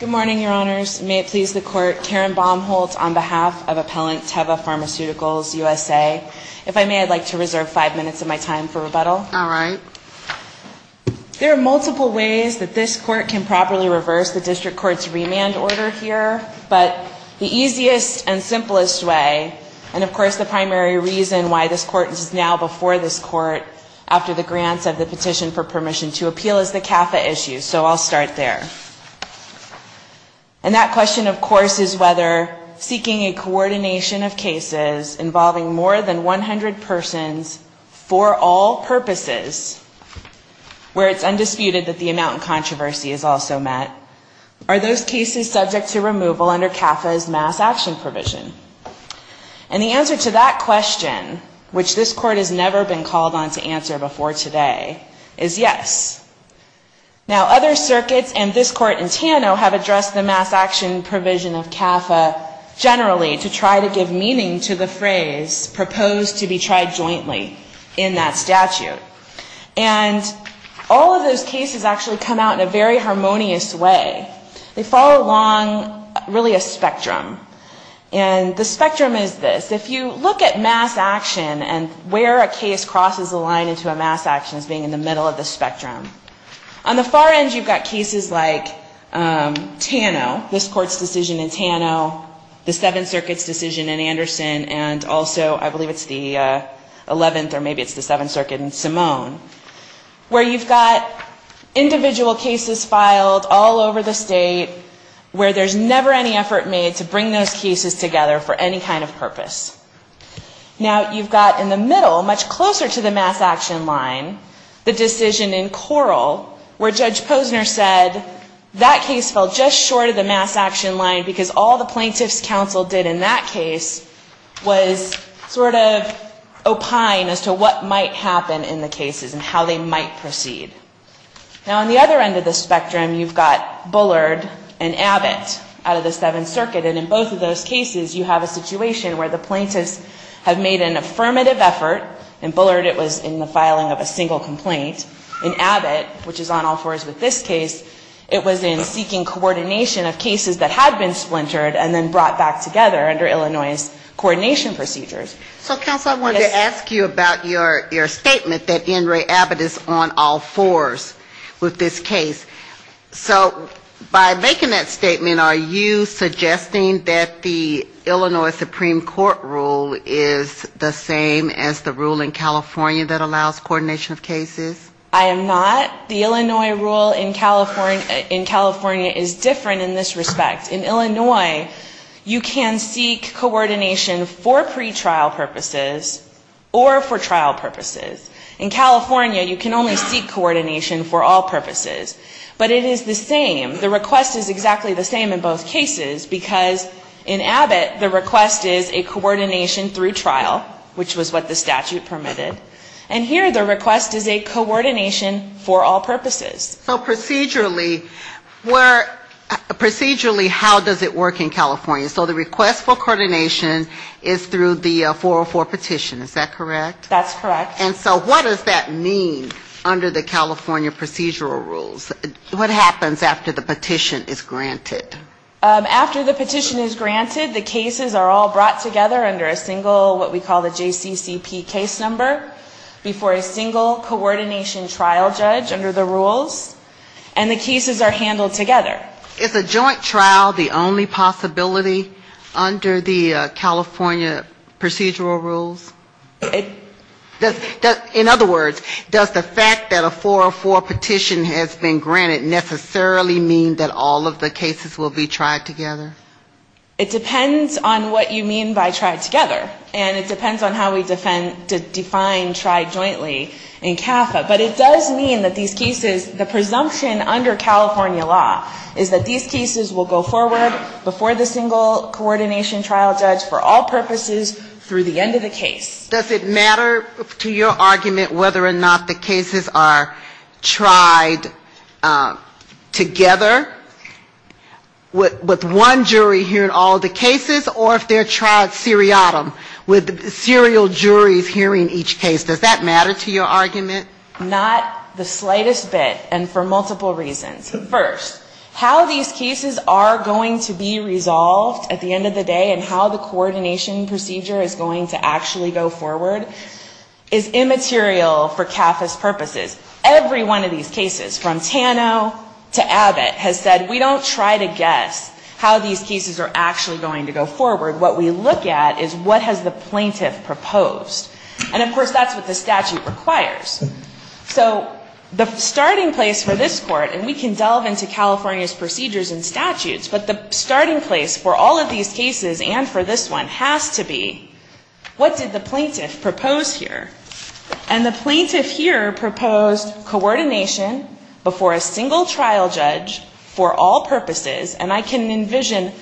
Good morning, Your Honors. May it please the Court, Karen Baumholtz on behalf of Appellant Teva Pharmaceuticals USA. If I may, I'd like to reserve five minutes of my time for rebuttal. All right. There are multiple ways that this Court can properly reverse the District Court's remand order here, but the easiest and simplest way, and of course the primary reason why this Court is now before this Court after the grants of the petition for permission to appeal, is the CAFA issue, so I'll start there. And that question, of course, is whether seeking a coordination of cases involving more than 100 persons for all purposes, where it's undisputed that the amount in controversy is also met, are those cases subject to removal under CAFA's mass action provision? And the answer to that question, which this Court has never been called on to answer before today, is yes. Now, other circuits and this Court in Tano have addressed the mass action provision of CAFA generally to try to give meaning to the phrase proposed to be tried jointly in that statute. And all of those cases actually come out in a very harmonious way. They follow along really a spectrum. And the spectrum is this. If you look at mass action and where a case crosses a line into a mass action as being in the middle of the spectrum, on the far end you've got cases like Tano, this Court's decision in Tano, the Seventh Circuit's decision in Anderson, and also I believe it's the 11th or maybe it's the Seventh Circuit in Simone, where you've got individual cases filed all over the state, where there's never any effort made to bring those cases together for any kind of purpose. Now, you've got in the middle, much closer to the mass action line, the decision in Coral, where Judge Posner said that case fell just short of the mass action line because all the plaintiff's counsel did in that case was sort of opine as to what might happen in the cases and how they might proceed. Now, on the other end of the spectrum, you've got Bullard and Abbott out of the Seventh Circuit. And in both of those cases, you have a situation where the plaintiffs have made an affirmative effort. In Bullard, it was in the filing of a single complaint. In Abbott, which is on all fours with this case, it was in seeking coordination of cases that had been splintered and then brought back together under Illinois' coordination procedures. So, counsel, I wanted to ask you about your statement that N. Ray Abbott is on all fours with this case. So by making that statement, are you suggesting that the Illinois Supreme Court rule is the same as the rule in California that allows coordination of cases? I am not. The Illinois rule in California is different in this respect. In Illinois, you can seek coordination for pretrial purposes or for trial purposes. In California, you can only seek coordination for all purposes. But it is the same. The request is exactly the same in both cases, because in Abbott, the request is a coordination through trial, which was what the statute permitted. And here, the request is a coordination for all purposes. So procedurally, how does it work in California? So the request for coordination is through the 404 petition, is that correct? That's correct. And so what does that mean under the California procedural rules? What happens after the petition is granted? After the petition is granted, the cases are all brought together under a single what we call the JCCP case number, before a single coordination trial judge under the rules, and the cases are handled together. Is a joint trial the only possibility under the California procedural rules? In other words, does the fact that a 404 petition has been granted necessarily mean that all of the cases will be tried together? It depends on what you mean by tried together. And it depends on how we define tried jointly in CAFA. But it does mean that these cases, the presumption under California law is that these cases will go forward before the single coordination trial judge for all purposes through the end of the case. Does it matter to your argument whether or not the cases are tried together with one jury hearing all of the cases, or if they're tried seriatim with serial juries hearing each case? Does that matter to your argument? Not the slightest bit, and for multiple reasons. First, how these cases are going to be resolved at the end of the day and how the coordination procedure is going to actually go forward is immaterial for CAFA's purposes. Every one of these cases, from Tano to Abbott, has said we don't try to guess how these cases are actually going to go forward. What we look at is what has the plaintiff done. What has the plaintiff proposed? And, of course, that's what the statute requires. So the starting place for this Court, and we can delve into California's procedures and statutes, but the starting place for all of these cases and for this one has to be what did the plaintiff propose here. And the plaintiff here proposed coordination before a single trial judge for all purposes, and I can envision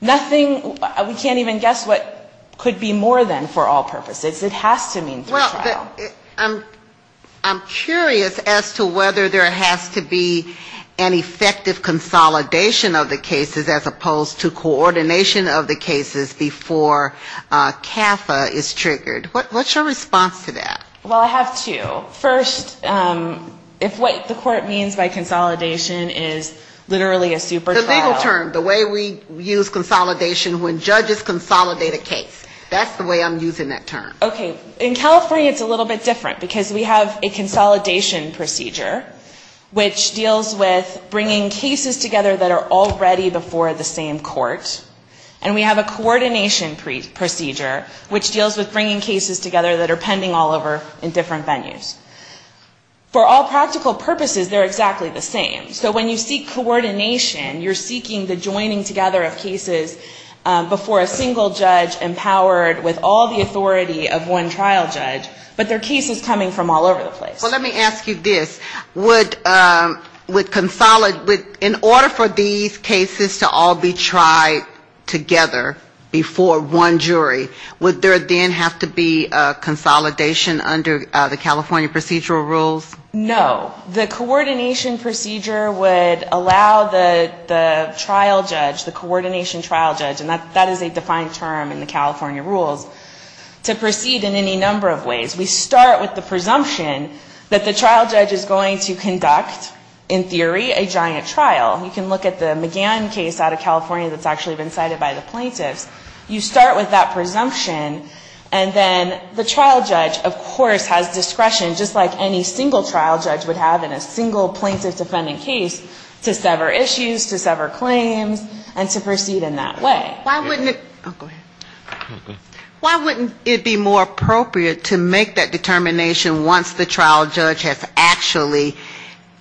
nothing, we can't even guess what could be more than for all purposes. It has to mean for trial. I'm curious as to whether there has to be an effective consolidation of the cases as opposed to coordination of the cases before CAFA is triggered. What's your response to that? Well, I have two. First, if what the Court means by consolidation is literally a super trial. The legal term, the way we use consolidation when judges consolidate a case. That's the way I'm using it. Okay. In California, it's a little bit different, because we have a consolidation procedure, which deals with bringing cases together that are already before the same court, and we have a coordination procedure, which deals with bringing cases together that are pending all over in different venues. For all practical purposes, they're exactly the same. So when you seek coordination, you're seeking the joining together of cases before a single judge empowered with all the authority of one trial judge, but they're cases coming from all over the place. Well, let me ask you this. In order for these cases to all be tried together before one jury, would there then have to be consolidation under the California procedural rules? No. The coordination procedure would allow the trial judge, the coordination trial judge, and that is a defined term in the statute, to proceed in any number of ways. We start with the presumption that the trial judge is going to conduct, in theory, a giant trial. You can look at the McGann case out of California that's actually been cited by the plaintiffs. You start with that presumption, and then the trial judge, of course, has discretion, just like any single trial judge would have in a single plaintiff defendant case, to sever issues, to sever claims, and to proceed in that way. Why wouldn't it be more appropriate to make that determination once the trial judge has actually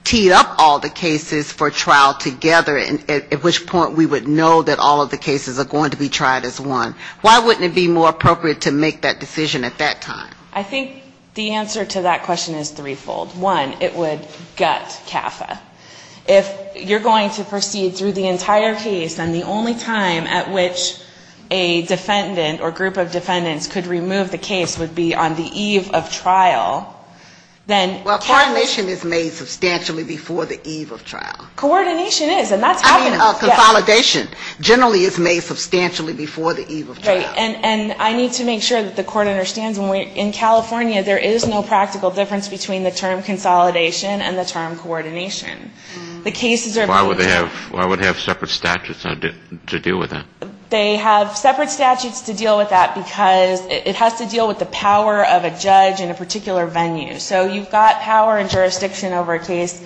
teed up all the cases for trial together, at which point we would know that all of the cases are going to be tried as one? Why wouldn't it be more appropriate to make that decision at that time? I think the answer to that question is threefold. One, it would gut CAFA. If you're going to proceed through the entire case, and the only time at which a defendant or group of defendants could remove the case would be on the eve of trial, then CAFA ---- Well, coordination is made substantially before the eve of trial. Coordination is, and that's happening. I mean, consolidation generally is made substantially before the eve of trial. Right. And I need to make sure that the Court understands when we're in California, there is no practical difference between the term and the statute. They have separate statutes to deal with that, because it has to deal with the power of a judge in a particular venue. So you've got power and jurisdiction over a case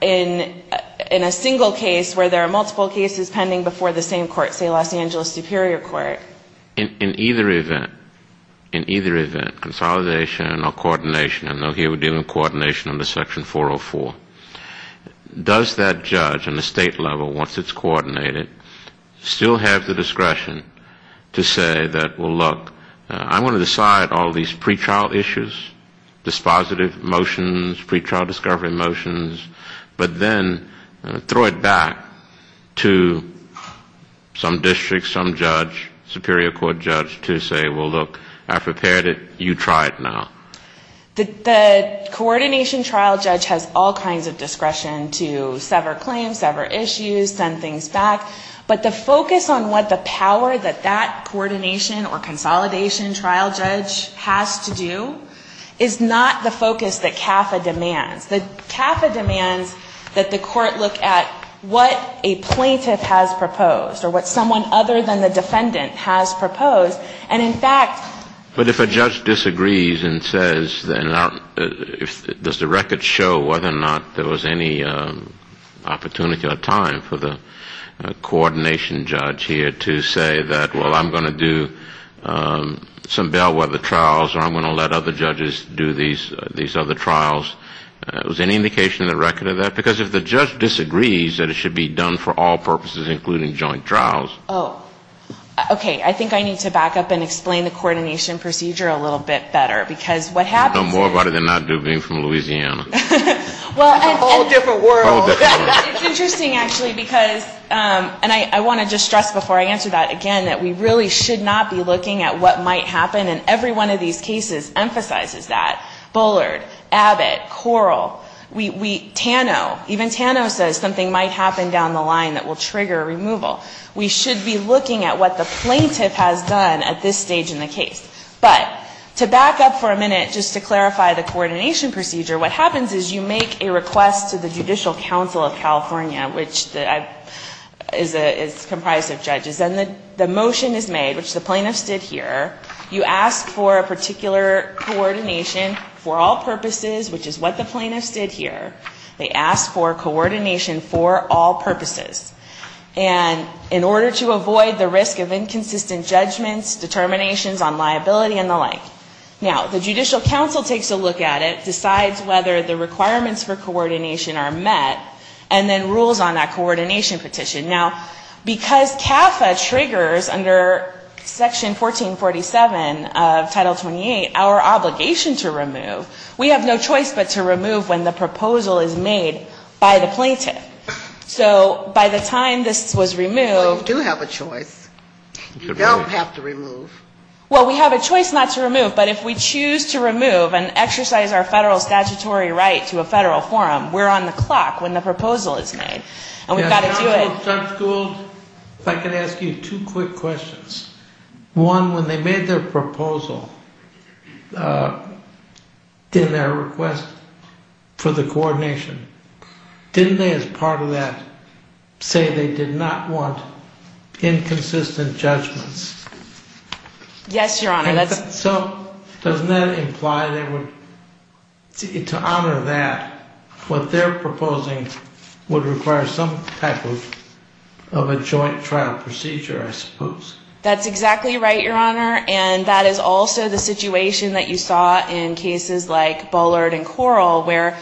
in a single case where there are multiple cases pending before the same court, say Los Angeles Superior Court. In either event, in either event, consolidation or coordination, and here we're dealing with coordination under Section 404, does that judge on the state level, once it's coordinated, still have the discretion to say that, well, look, I want to decide all these pre-trial issues, dispositive motions, pre-trial discovery motions, but then throw it back to some district, some judge, Superior Court judge to say, well, look, I've prepared it, you try it now. The coordination trial judge has all kinds of discretion to sever claims, sever penalties, and so forth. Sever issues, send things back. But the focus on what the power that that coordination or consolidation trial judge has to do is not the focus that CAFA demands. The CAFA demands that the Court look at what a plaintiff has proposed or what someone other than the defendant has proposed. And, in fact ---- Kennedy But if a judge disagrees and says, does the record show whether or not there was any opportunity to do that? Was there any time for the coordination judge here to say that, well, I'm going to do some bail weather trials or I'm going to let other judges do these other trials? Was there any indication in the record of that? Because if the judge disagrees that it should be done for all purposes, including joint trials ---- Okay. I think I need to back up and explain the coordination procedure a little bit better, because what happens is ---- Kennedy You know more about it than I do, being from Louisiana. It's a whole different world. It's interesting, actually, because, and I want to just stress before I answer that again, that we really should not be looking at what might happen, and every one of these cases emphasizes that. Bullard, Abbott, Corl, we ---- Tano, even Tano says something might happen down the line that will trigger removal. We should be looking at what the plaintiff has done at this stage in the case. But to back up for a minute, just to clarify the coordination procedure, what happens is you make a request to the Judicial Council of California, which is comprised of judges, and the motion is made, which the plaintiffs did here. You ask for a particular coordination for all purposes, which is what the plaintiffs did here. They asked for coordination for all purposes. And in order to avoid the risk of inconsistent judgments, determinations on liability and the like, now, the Judicial Council takes a look at it, decides whether the requirements for coordination are met, and then rules on that coordination petition. Now, because CAFA triggers under Section 1447 of Title 28 our obligation to remove, we have no choice but to remove when the proposal is made by the plaintiff. So by the time this was removed ---- Well, we have a choice not to remove, but if we choose to remove and exercise our federal statutory right to a federal forum, we're on the clock when the proposal is made. And we've got to do it ---- If I could ask you two quick questions. One, when they made their proposal in their request for the coordination, didn't they as part of that say they did not want inconsistent judgments? Yes, Your Honor. Doesn't that imply that to honor that, what they're proposing would require some type of a joint trial procedure, I suppose? That's exactly right, Your Honor. And that is also the situation that you saw in cases like Bullard and Corl, where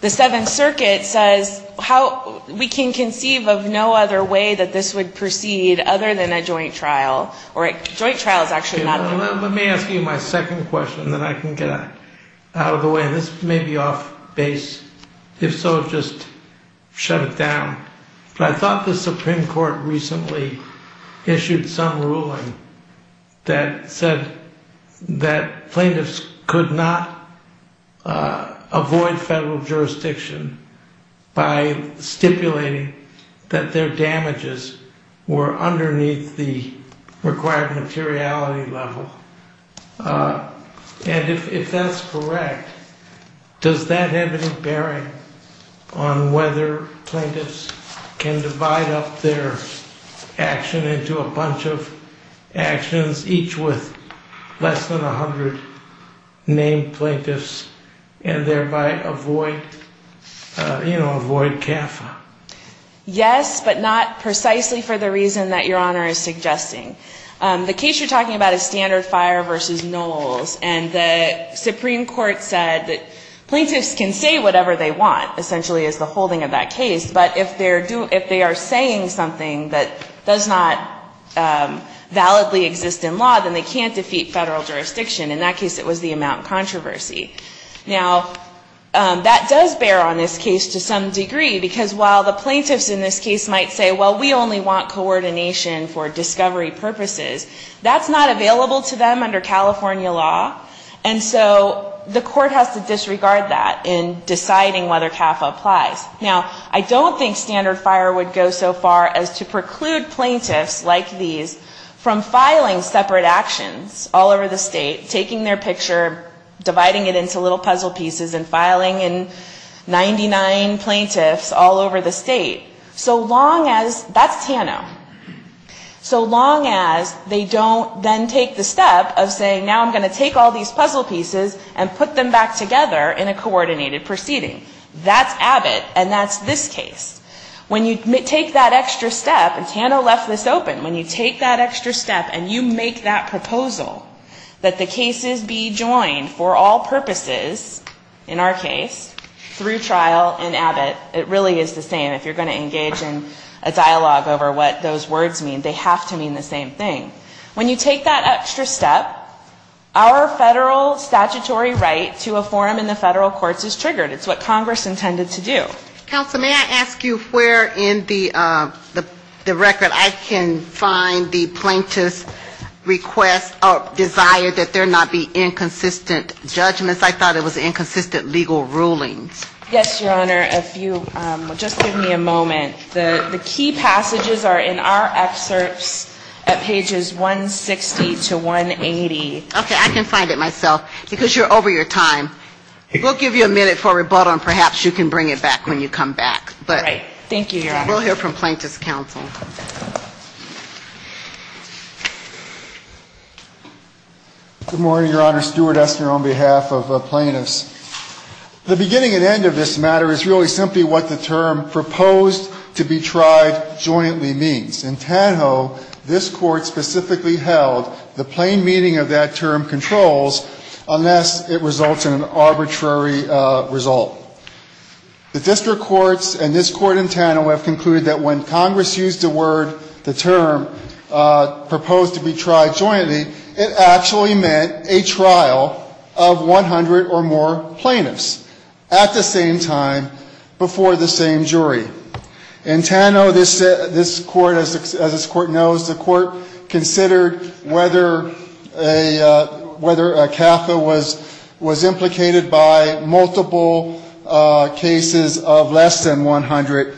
the Seventh Circuit said there was no other way that this would proceed other than a joint trial. Let me ask you my second question, then I can get out of the way. And this may be off base. If so, just shut it down. But I thought the Supreme Court recently issued some ruling that said that plaintiffs could not avoid federal jurisdiction by stipulating that their damages were underneath the required materiality level. And if that's correct, does that have any bearing on whether plaintiffs can divide up their action into a bunch of actions, each with less than 100 named plaintiffs, and thereby avoid CAFA? Yes, but not precisely for the reason that Your Honor is suggesting. The case you're talking about is Standard Fire v. Knowles. And the Supreme Court said that plaintiffs can say whatever they want, essentially, as the holding of that case. But if they are saying something that does not validly exist in law, then they can't defeat federal jurisdiction. In that case, it was the amount controversy. Now, that does bear on this case to some degree, because while the plaintiffs in this case might say, well, we only want coordination for discovery purposes, that's not available to them under California law. And so the court has to disregard that in deciding whether CAFA applies. Now, I don't think Standard Fire would go so far as to preclude plaintiffs like these from filing separate actions all over the state, taking their picture, dividing it into little puzzle pieces, and filing in 99 plaintiffs all over the state, so long as that's Tano, so long as they don't then take the step of saying, now I'm going to take all these puzzle pieces and put them back together in a coordinated proceeding. That's Abbott, and that's this case. When you take that extra step, and Tano left this open, when you take that extra step and you make that proposal that the case be joined for all purposes in our case through trial in Abbott, it really is the same. If you're going to engage in a dialogue over what those words mean, they have to mean the same thing. When you take that extra step, our federal statutory right to a forum in the federal courts is triggered. It's what Congress intended to do. Counsel, may I ask you where in the record I can find the plaintiff's request or desire that there not be inconsistent judgments? I thought it was inconsistent legal rulings. Yes, Your Honor. If you would just give me a moment. The key passages are in our excerpts at pages 160 to 180. Okay. I can find it myself. Because you're over your time. We'll give you a minute for rebuttal, and perhaps you can bring it back when you come back. Right. Thank you, Your Honor. We'll hear from Plaintiff's counsel. Good morning, Your Honor. Stuart Esner on behalf of plaintiffs. The beginning and end of this matter is really simply what the term proposed to be tried jointly means. In Tanho, this Court specifically held the plain meaning of that term controls unless it results in an arbitrary result. The district courts and this Court in Tanho have concluded that when Congress used the word, the term proposed to be tried jointly, it actually meant a trial of 100 or more plaintiffs at the same time before the same jury. In Tanho, this Court, as this Court knows, the Court considered whether a CAFA was implicated by multiple cases of less than 100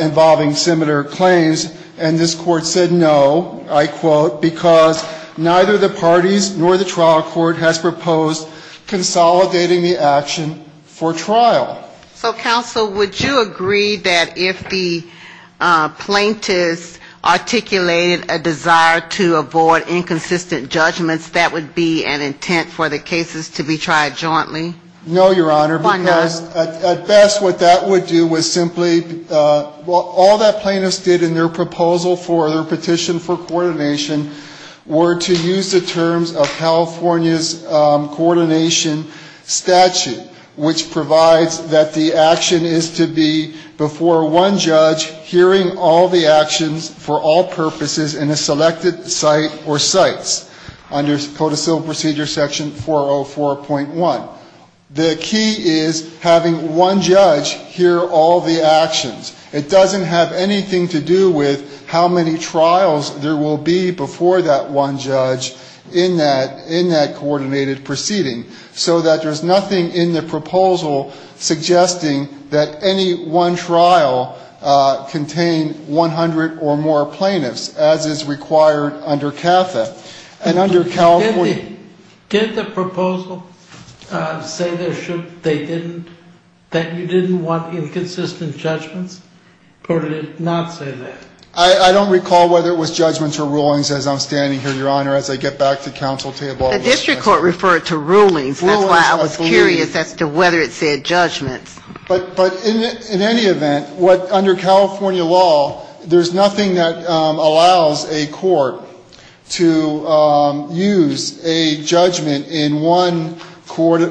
involving similar claims, and this Court said no, I quote, because neither the parties nor the trial court has proposed consolidating the action for trial. So, counsel, would you agree that if the plaintiffs articulated a desire to avoid inconsistent judgments, that would be an intent for the cases to be tried jointly? No, Your Honor, because at best what that would do was simply, well, all that plaintiffs did in their proposal for their petition for California's coordination statute, which provides that the action is to be before one judge hearing all the actions for all purposes in a selected site or sites under Code of Civil Procedure section 404.1. The key is having one judge hear all the actions. It doesn't have anything to do with how many trials there will be before that one judge in that case. It has to do with how many trials there will be in that coordinated proceeding, so that there's nothing in the proposal suggesting that any one trial contain 100 or more plaintiffs, as is required under CAFA. And under California... Did the proposal say that you didn't want inconsistent judgments, or did it not say that? I don't recall whether it was judgments or rulings as I'm standing here, Your Honor, as I get back to counsel table. The district court referred to rulings. Rulings, I believe. That's why I was curious as to whether it said judgments. But in any event, under California law, there's nothing that allows a court to use a judgment in one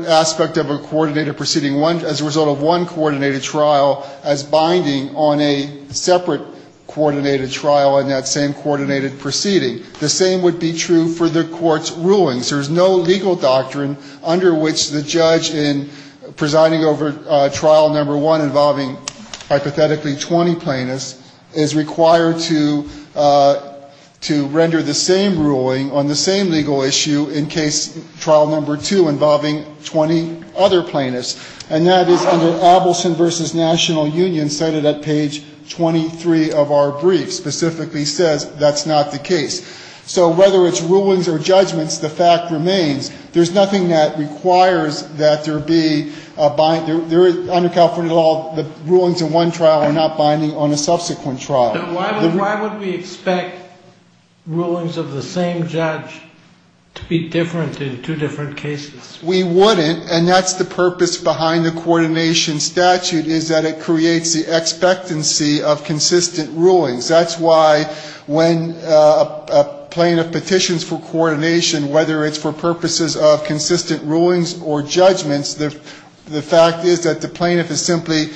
aspect of a coordinated proceeding, as a result of one coordinated trial, as binding on a separate coordinated trial in that same coordinated proceeding. The same would be true for the court's rulings. There's no legal doctrine under which the judge, in presiding over trial number one involving hypothetically 20 plaintiffs, is required to render the same ruling on the same legal issue in case trial number two involving 20 other plaintiffs. And that is under Abelson v. National Union, cited at page 23 of our brief, specifically says that's not the case. So whether it's rulings or judgments, the fact remains, there's nothing that requires that there be a bind. Under California law, the rulings in one trial are not binding on a subsequent trial. Why would we expect rulings of the same judge to be different in two different cases? We wouldn't, and that's the purpose behind the coordination statute, is that it creates the expectancy of consistent rulings. That's why when a plaintiff petitions for coordination, whether it's for purposes of consistent rulings or judgments, the fact is that the plaintiff is simply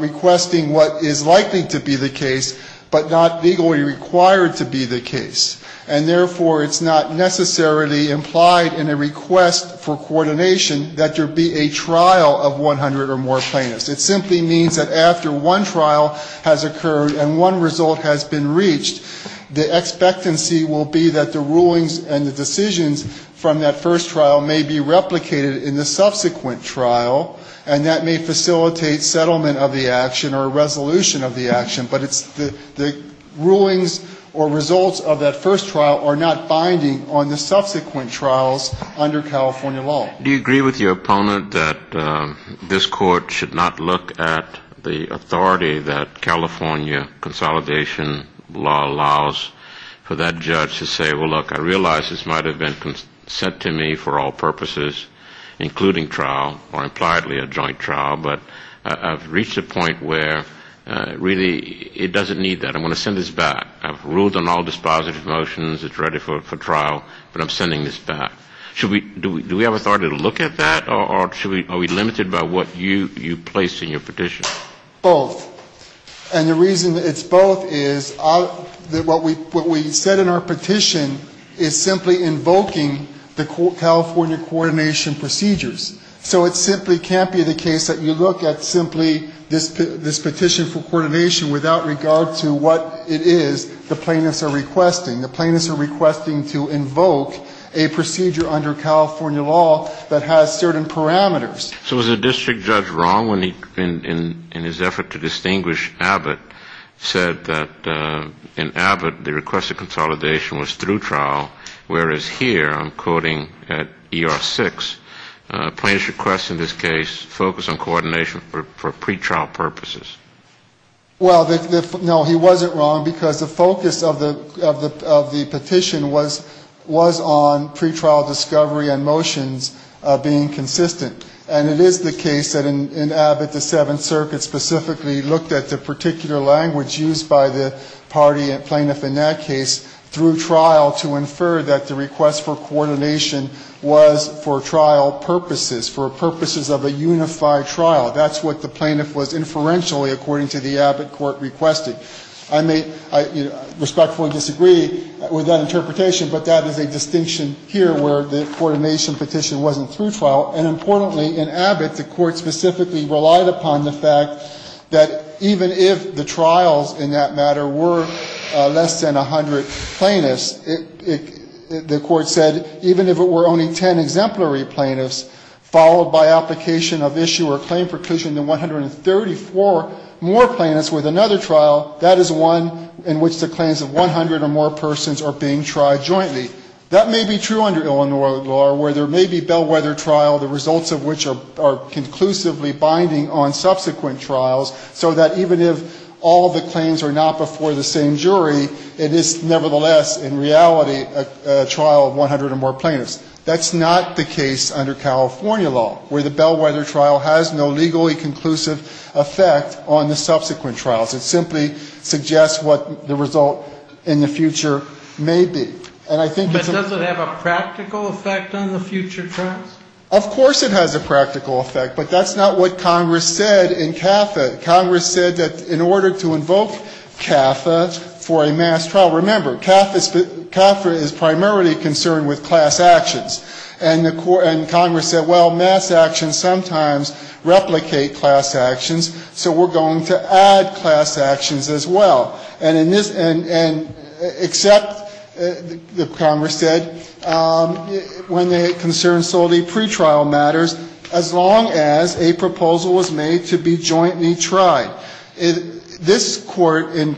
requesting what is likely to be the case, but not legally required to be the case. And therefore, it's not necessarily implied in a request for coordination that there be a trial of 100 or more plaintiffs. It simply means that after one trial has occurred and one result has been reached, the expectancy will be that the rulings and the decisions from that first trial may be replicated in the subsequent trial, and that may facilitate settlement of the action or a resolution of the action, but it's the rulings or results of that first trial are not binding on the subsequent trials under California law. Do you agree with your opponent that this Court should not look at the authority that California consolidation law allows for that judge to say, well, look, I realize this might have been sent to me for all purposes, including trial, or impliedly a joint trial, but I've reached a point where really it doesn't need that. I'm going to send this back. I've ruled on all dispositive motions, it's ready for trial, but I'm sending this back. Do we have authority to look at that, or are we limited by what you placed in your petition? Both. And the reason it's both is what we said in our petition is simply invoking the California coordination procedures. So it simply can't be the case that you look at simply this petition for coordination without regard to what it is the plaintiffs are requesting. The plaintiffs are requesting to invoke a procedure under California law that has certain parameters. So was the district judge wrong when he, in his effort to distinguish Abbott, said that in Abbott the request of consolidation was through trial, whereas here, I'm quoting at ER6, plaintiffs request in this case focus on coordination for pretrial purposes? Well, no, he wasn't wrong, because the focus of the petition was on pretrial discovery and motions being consistent. And it is the case that in Abbott the Seventh Circuit specifically looked at the particular language used by the party plaintiff in that case through trial to infer that the request of coordination was for trial purposes, for purposes of a unified trial. That's what the plaintiff was inferentially, according to the Abbott court requested. I may respectfully disagree with that interpretation, but that is a distinction here where the coordination petition wasn't through trial. And importantly, in Abbott, the court specifically relied upon the fact that even if the trials in that matter were less than 100 plaintiffs, the court said even if it were only 10 exemplary plaintiffs, followed by application of issue or claim preclusion to 134 more plaintiffs with another trial, that is one in which the claims of 100 or more persons are being tried jointly. That may be true under Illinois law where there may be bellwether trial, the results of which are conclusively binding on subsequent trials, so that even if all the claims are not before the same jury, it is nevertheless in reality a trial of 100 or more plaintiffs. That's not the case under California law, where the bellwether trial has no legally conclusive effect on the subsequent trials. It simply suggests what the result in the future may be. And I think it's a ---- But does it have a practical effect on the future trials? Of course it has a practical effect, but that's not what Congress said in CAFA. Congress said that in order to invoke CAFA for a mass trial, remember, CAFA is primarily concerned with class actions. And Congress said, well, mass actions sometimes replicate class actions, so we're going to add class actions as well. And in this ---- and except, Congress said, when they concern solely pretrial matters, as long as a proposal was made to be jointly tried. This Court in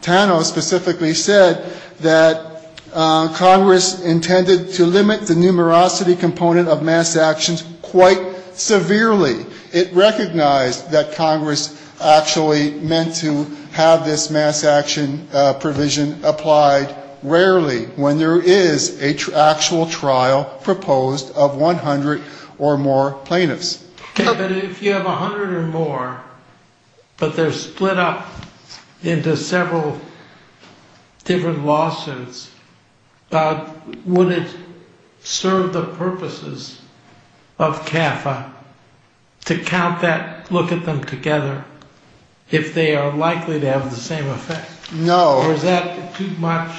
Tano specifically said that Congress intended to limit the numerosity component of mass actions quite severely. It recognized that Congress actually meant to have this mass action provision applied rarely when there is an actual trial proposed of 100 or more plaintiffs. But if you have 100 or more, but they're split up into several different lawsuits, would it serve the purposes of CAFA to count that, look at them together, if they are likely to have the same effect? No. Or is that too much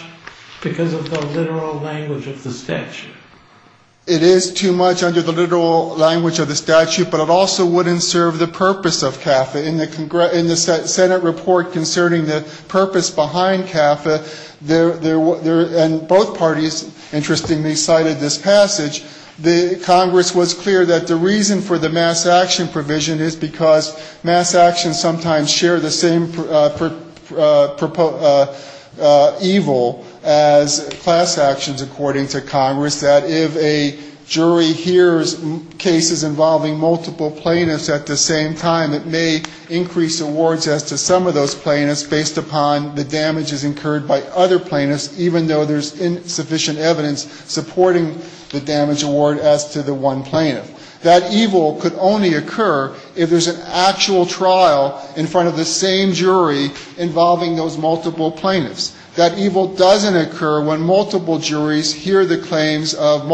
because of the literal language of the statute? It is too much under the literal language of the statute, but it also wouldn't serve the purpose of CAFA. In the Senate report concerning the purpose behind CAFA, and both parties, interestingly, cited this passage, Congress was clear that the reason for the mass action provision is because mass actions sometimes share the same evil as class actions, according to Congress. That if a jury hears cases involving multiple plaintiffs at the same time, it may increase awards as to some of those plaintiffs based upon the damages incurred by other plaintiffs, even though there's insufficient evidence supporting the damage award as to the one plaintiff. That evil could only occur if there's an actual trial in front of the same jury involving those multiple plaintiffs. That evil doesn't occur when multiple juries hear the claims of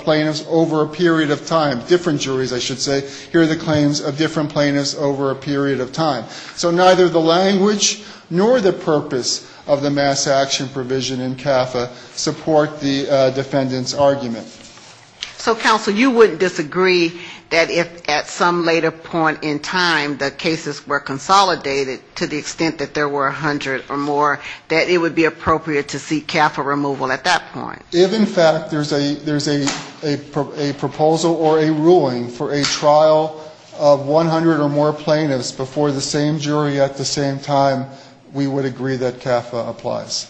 plaintiffs over a period of time. Different juries, I should say, hear the claims of different plaintiffs over a period of time. So neither the language nor the purpose of the mass action provision in CAFA support the defendant's argument. So, counsel, you wouldn't disagree that if at some later point in time the cases were consolidated to the extent that there were 100 or more, that there wouldn't be any harm to the plaintiffs? That it would be appropriate to seek CAFA removal at that point? If, in fact, there's a proposal or a ruling for a trial of 100 or more plaintiffs before the same jury at the same time, we would agree that CAFA applies.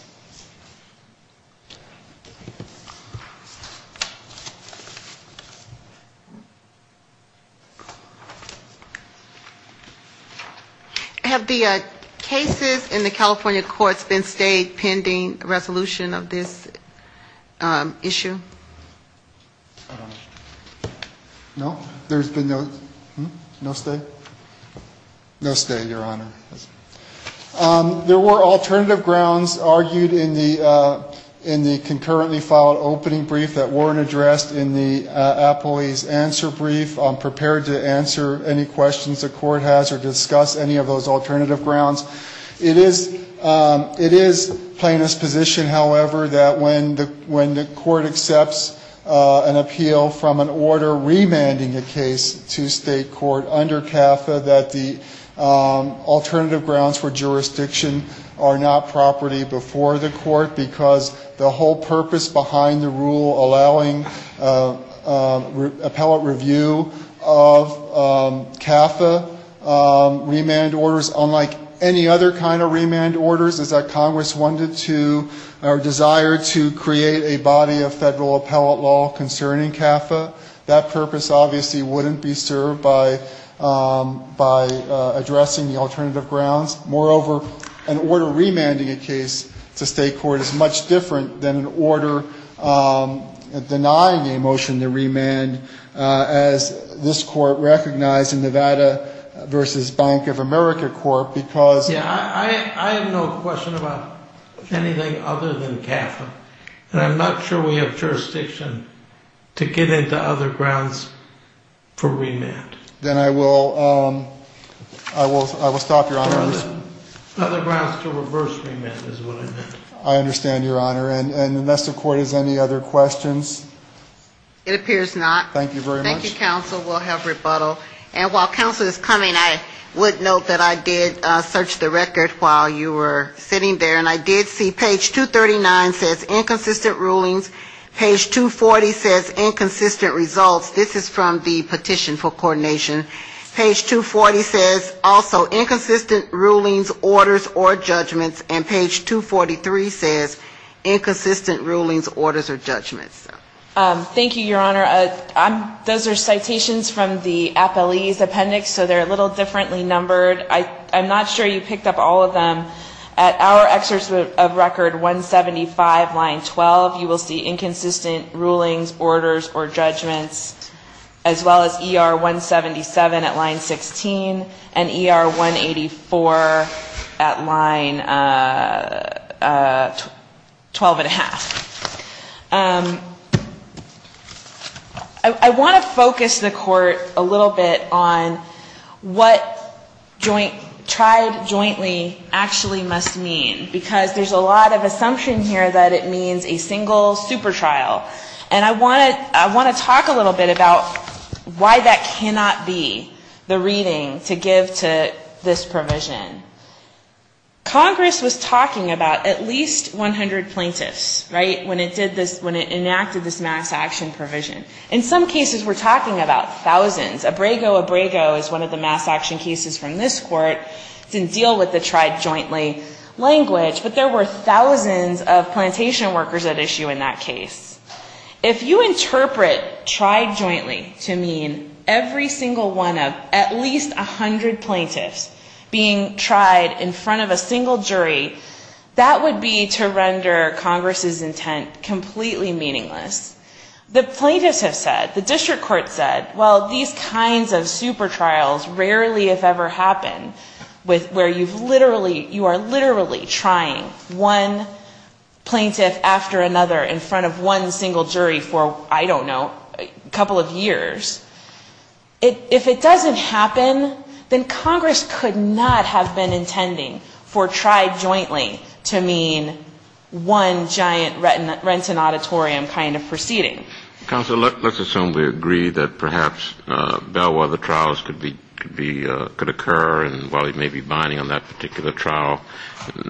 Have the cases in the California courts been stayed pending resolution of this issue? No. There's been no stay? No stay, Your Honor. There were alternative grounds argued in the concurrently filed opening brief that weren't addressed in the appellee's answer brief. I'm prepared to answer any questions the court has or discuss any of those alternative grounds. It is plaintiff's position, however, that when the court accepts an appeal from an order remanding a case to state court under CAFA, that the alternative grounds for jurisdiction are not property before the court, because the whole purpose behind the rule allowing appellate review of CAFA remand orders, unlike any other kind of remand orders, is that Congress wanted to or desired to create a body of federal appellate law concerning CAFA. That purpose obviously wouldn't be served by addressing the alternative grounds. Moreover, an order remanding a case to state court is much different than an order denying a motion to remand, as this court recognized in Nevada v. Bank of America court, because... Yeah, I have no question about anything other than CAFA, and I'm not sure we have jurisdiction to get into other grounds for remand. Then I will stop, Your Honor. Other grounds to reverse remand is what I meant. I understand, Your Honor. And unless the court has any other questions? It appears not. Thank you very much. Thank you, counsel. We'll have rebuttal. And while counsel is coming, I would note that I did search the record while you were sitting there, and I did see page 239 says inconsistent rulings, orders, or judgments, and page 243 says inconsistent rulings, orders, or judgments. Thank you, Your Honor. Those are citations from the appellee's appendix, so they're a little differently numbered. I'm not sure you picked up all of them. At our excerpt of record 175, line 12, you will see inconsistent rulings, orders, or judgments, as well as ER 175, line 12. ER 177 at line 16, and ER 184 at line 12 1⁄2. I want to focus the court a little bit on what tried jointly actually must mean, because there's a lot of assumption here that it means a single super trial. And I want to talk a little bit about why that cannot be the reading to give to this provision. Congress was talking about at least 100 plaintiffs, right, when it did this, when it enacted this mass action provision. In some cases we're talking about thousands. Abrego, Abrego is one of the mass action cases from this court. It didn't deal with the tried jointly language, but there were thousands of plantation workers at issue in that case. If you interpret tried jointly to mean every single one of at least 100 plaintiffs being tried in front of a single jury, that would be to render Congress's intent completely meaningless. The plaintiffs have said, the district court said, well, these kinds of super trials rarely if ever happen where you've literally, you are literally trying one plaintiff after another in front of one single jury for, I don't know, a couple of years. If it doesn't happen, then Congress could not have been intending for tried jointly to mean one giant Renton Auditorium kind of proceeding. Counsel, let's assume we agree that perhaps Bellwether trials could be, could occur, and while he may be binding on that particular trial,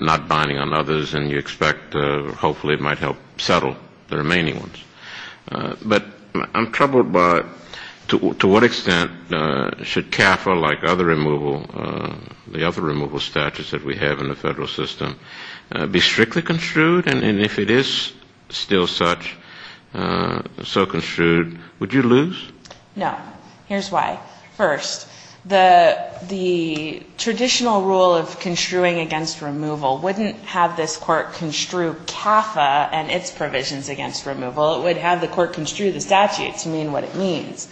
not binding on others, and you expect hopefully it might help settle the remaining ones. But I'm troubled by to what extent should CAFA, like other removal, the other removal statutes that we have in the federal system, be strictly construed? And if it is still such, so construed, would you lose? No. Here's why. First, the traditional rule of construing against removal wouldn't have this court construe CAFA and its provisions against removal. It would have the court construe the statute to mean what it means.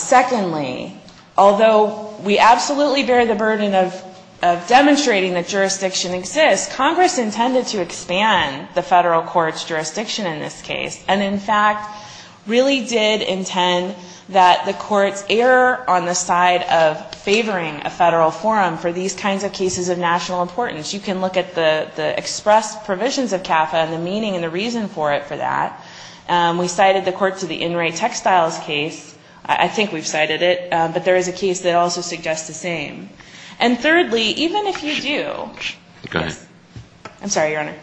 Secondly, although we absolutely bear the burden of demonstrating that jurisdiction exists, Congress intended to expand the federal court's jurisdiction in this case, and in fact, really did intend that the courts err on the side of favoring a federal forum for these kinds of cases of national importance. You can look at the expressed provisions of CAFA and the meaning and the reason for it for that. We cited the courts of the In Re Textiles case. I think we've cited it. But there is a case that also suggests the same. And thirdly, even if you do, yes. I'm sorry, Your Honor.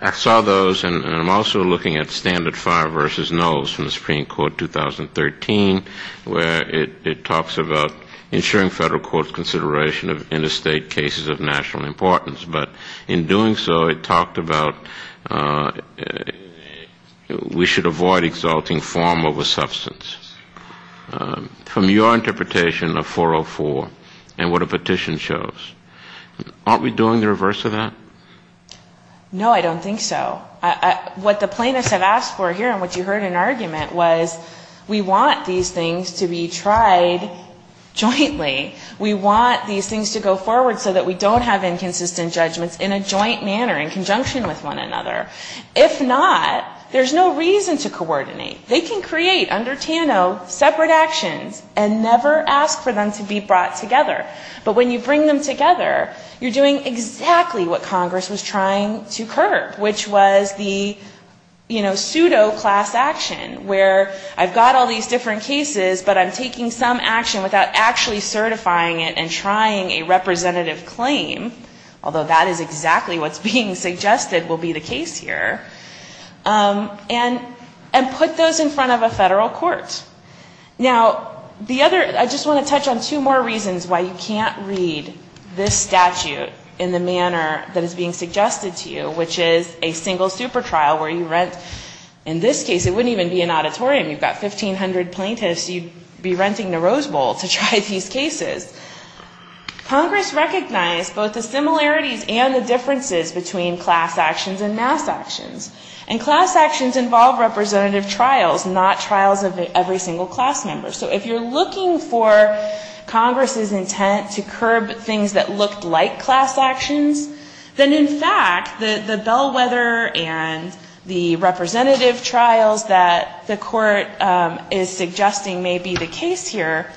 I saw those, and I'm also looking at Standard Five v. Knowles from the Supreme Court 2013, where it talks about ensuring federal court's consideration of interstate cases of national importance. But in doing so, it talked about we should avoid exalting form over substance. From your interpretation of 404 and what a petition shows, aren't we doing the reverse of that? No, I don't think so. What the plaintiffs have asked for here and what you heard in argument was we want these things to be tried jointly. We want these things to go forward so that we don't have inconsistent judgments in a joint manner, in conjunction with one another. If not, there's no reason to coordinate. They can create under TANO separate actions and never ask for them to be brought together. But when you bring them together, you're doing exactly what Congress was trying to curb, which was the, you know, pseudo class action, where I've got all these different cases, but I'm taking some action without actually certifying it and trying a representative claim, although that is exactly what's being suggested will be the case here, and put those in front of a federal court. Now, the other, I just want to touch on two more reasons why you can't read this statute in the manner that is being suggested to you, which is a single super trial where you rent, in this case, it wouldn't even be an auditorium, you've got 1,500 plaintiffs, you'd be renting the Rose Bowl to try these cases. Congress recognized both the similarities and the differences between class actions and mass actions. And class actions involve representative trials, not trials of every single class member. So if you're looking for Congress's intent to curb things that looked like class actions, then in fact, the bellwether and the representative trials that the court is suggesting may be the case here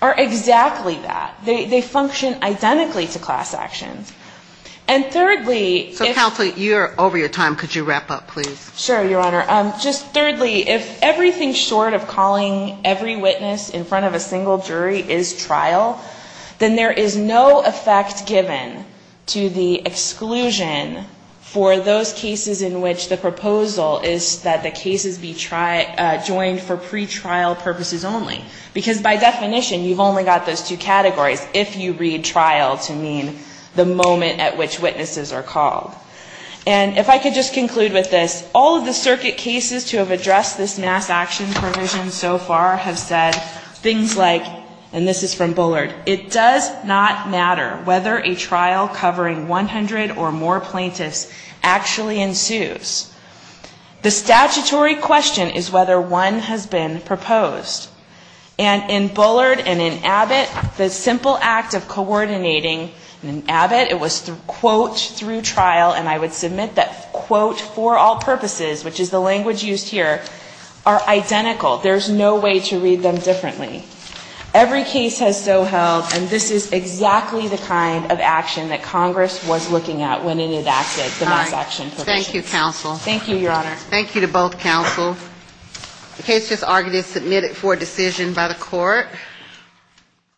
are exactly that. They function identically to class actions. And thirdly, if you're over your time, could you wrap up, please? Sure, Your Honor. Just thirdly, if everything short of calling every witness in front of a single jury is trial, then there is no effect given to the exclusion for those cases in which the proposal is that the cases be joined for pretrial purposes only. Because by definition, you've only got those two categories if you read trial to mean the moment at which witnesses are called. And if I could just conclude with this, all of the circuit cases to have addressed this mass action provision so far have said things like, and this is from Bullard, it does not matter whether a trial covering 100 or more plaintiffs actually ensues. The statutory question is whether one has been proposed. And in Bullard and in Abbott, the simple act of coordinating, and in Abbott it was, quote, through trial, and I would submit that, quote, for all purposes, which is the language used here, are identical. There's no way to read them differently. Every case has so held, and this is exactly the kind of action that Congress was looking at when it enacted the mass action provision. Thank you, Your Honor.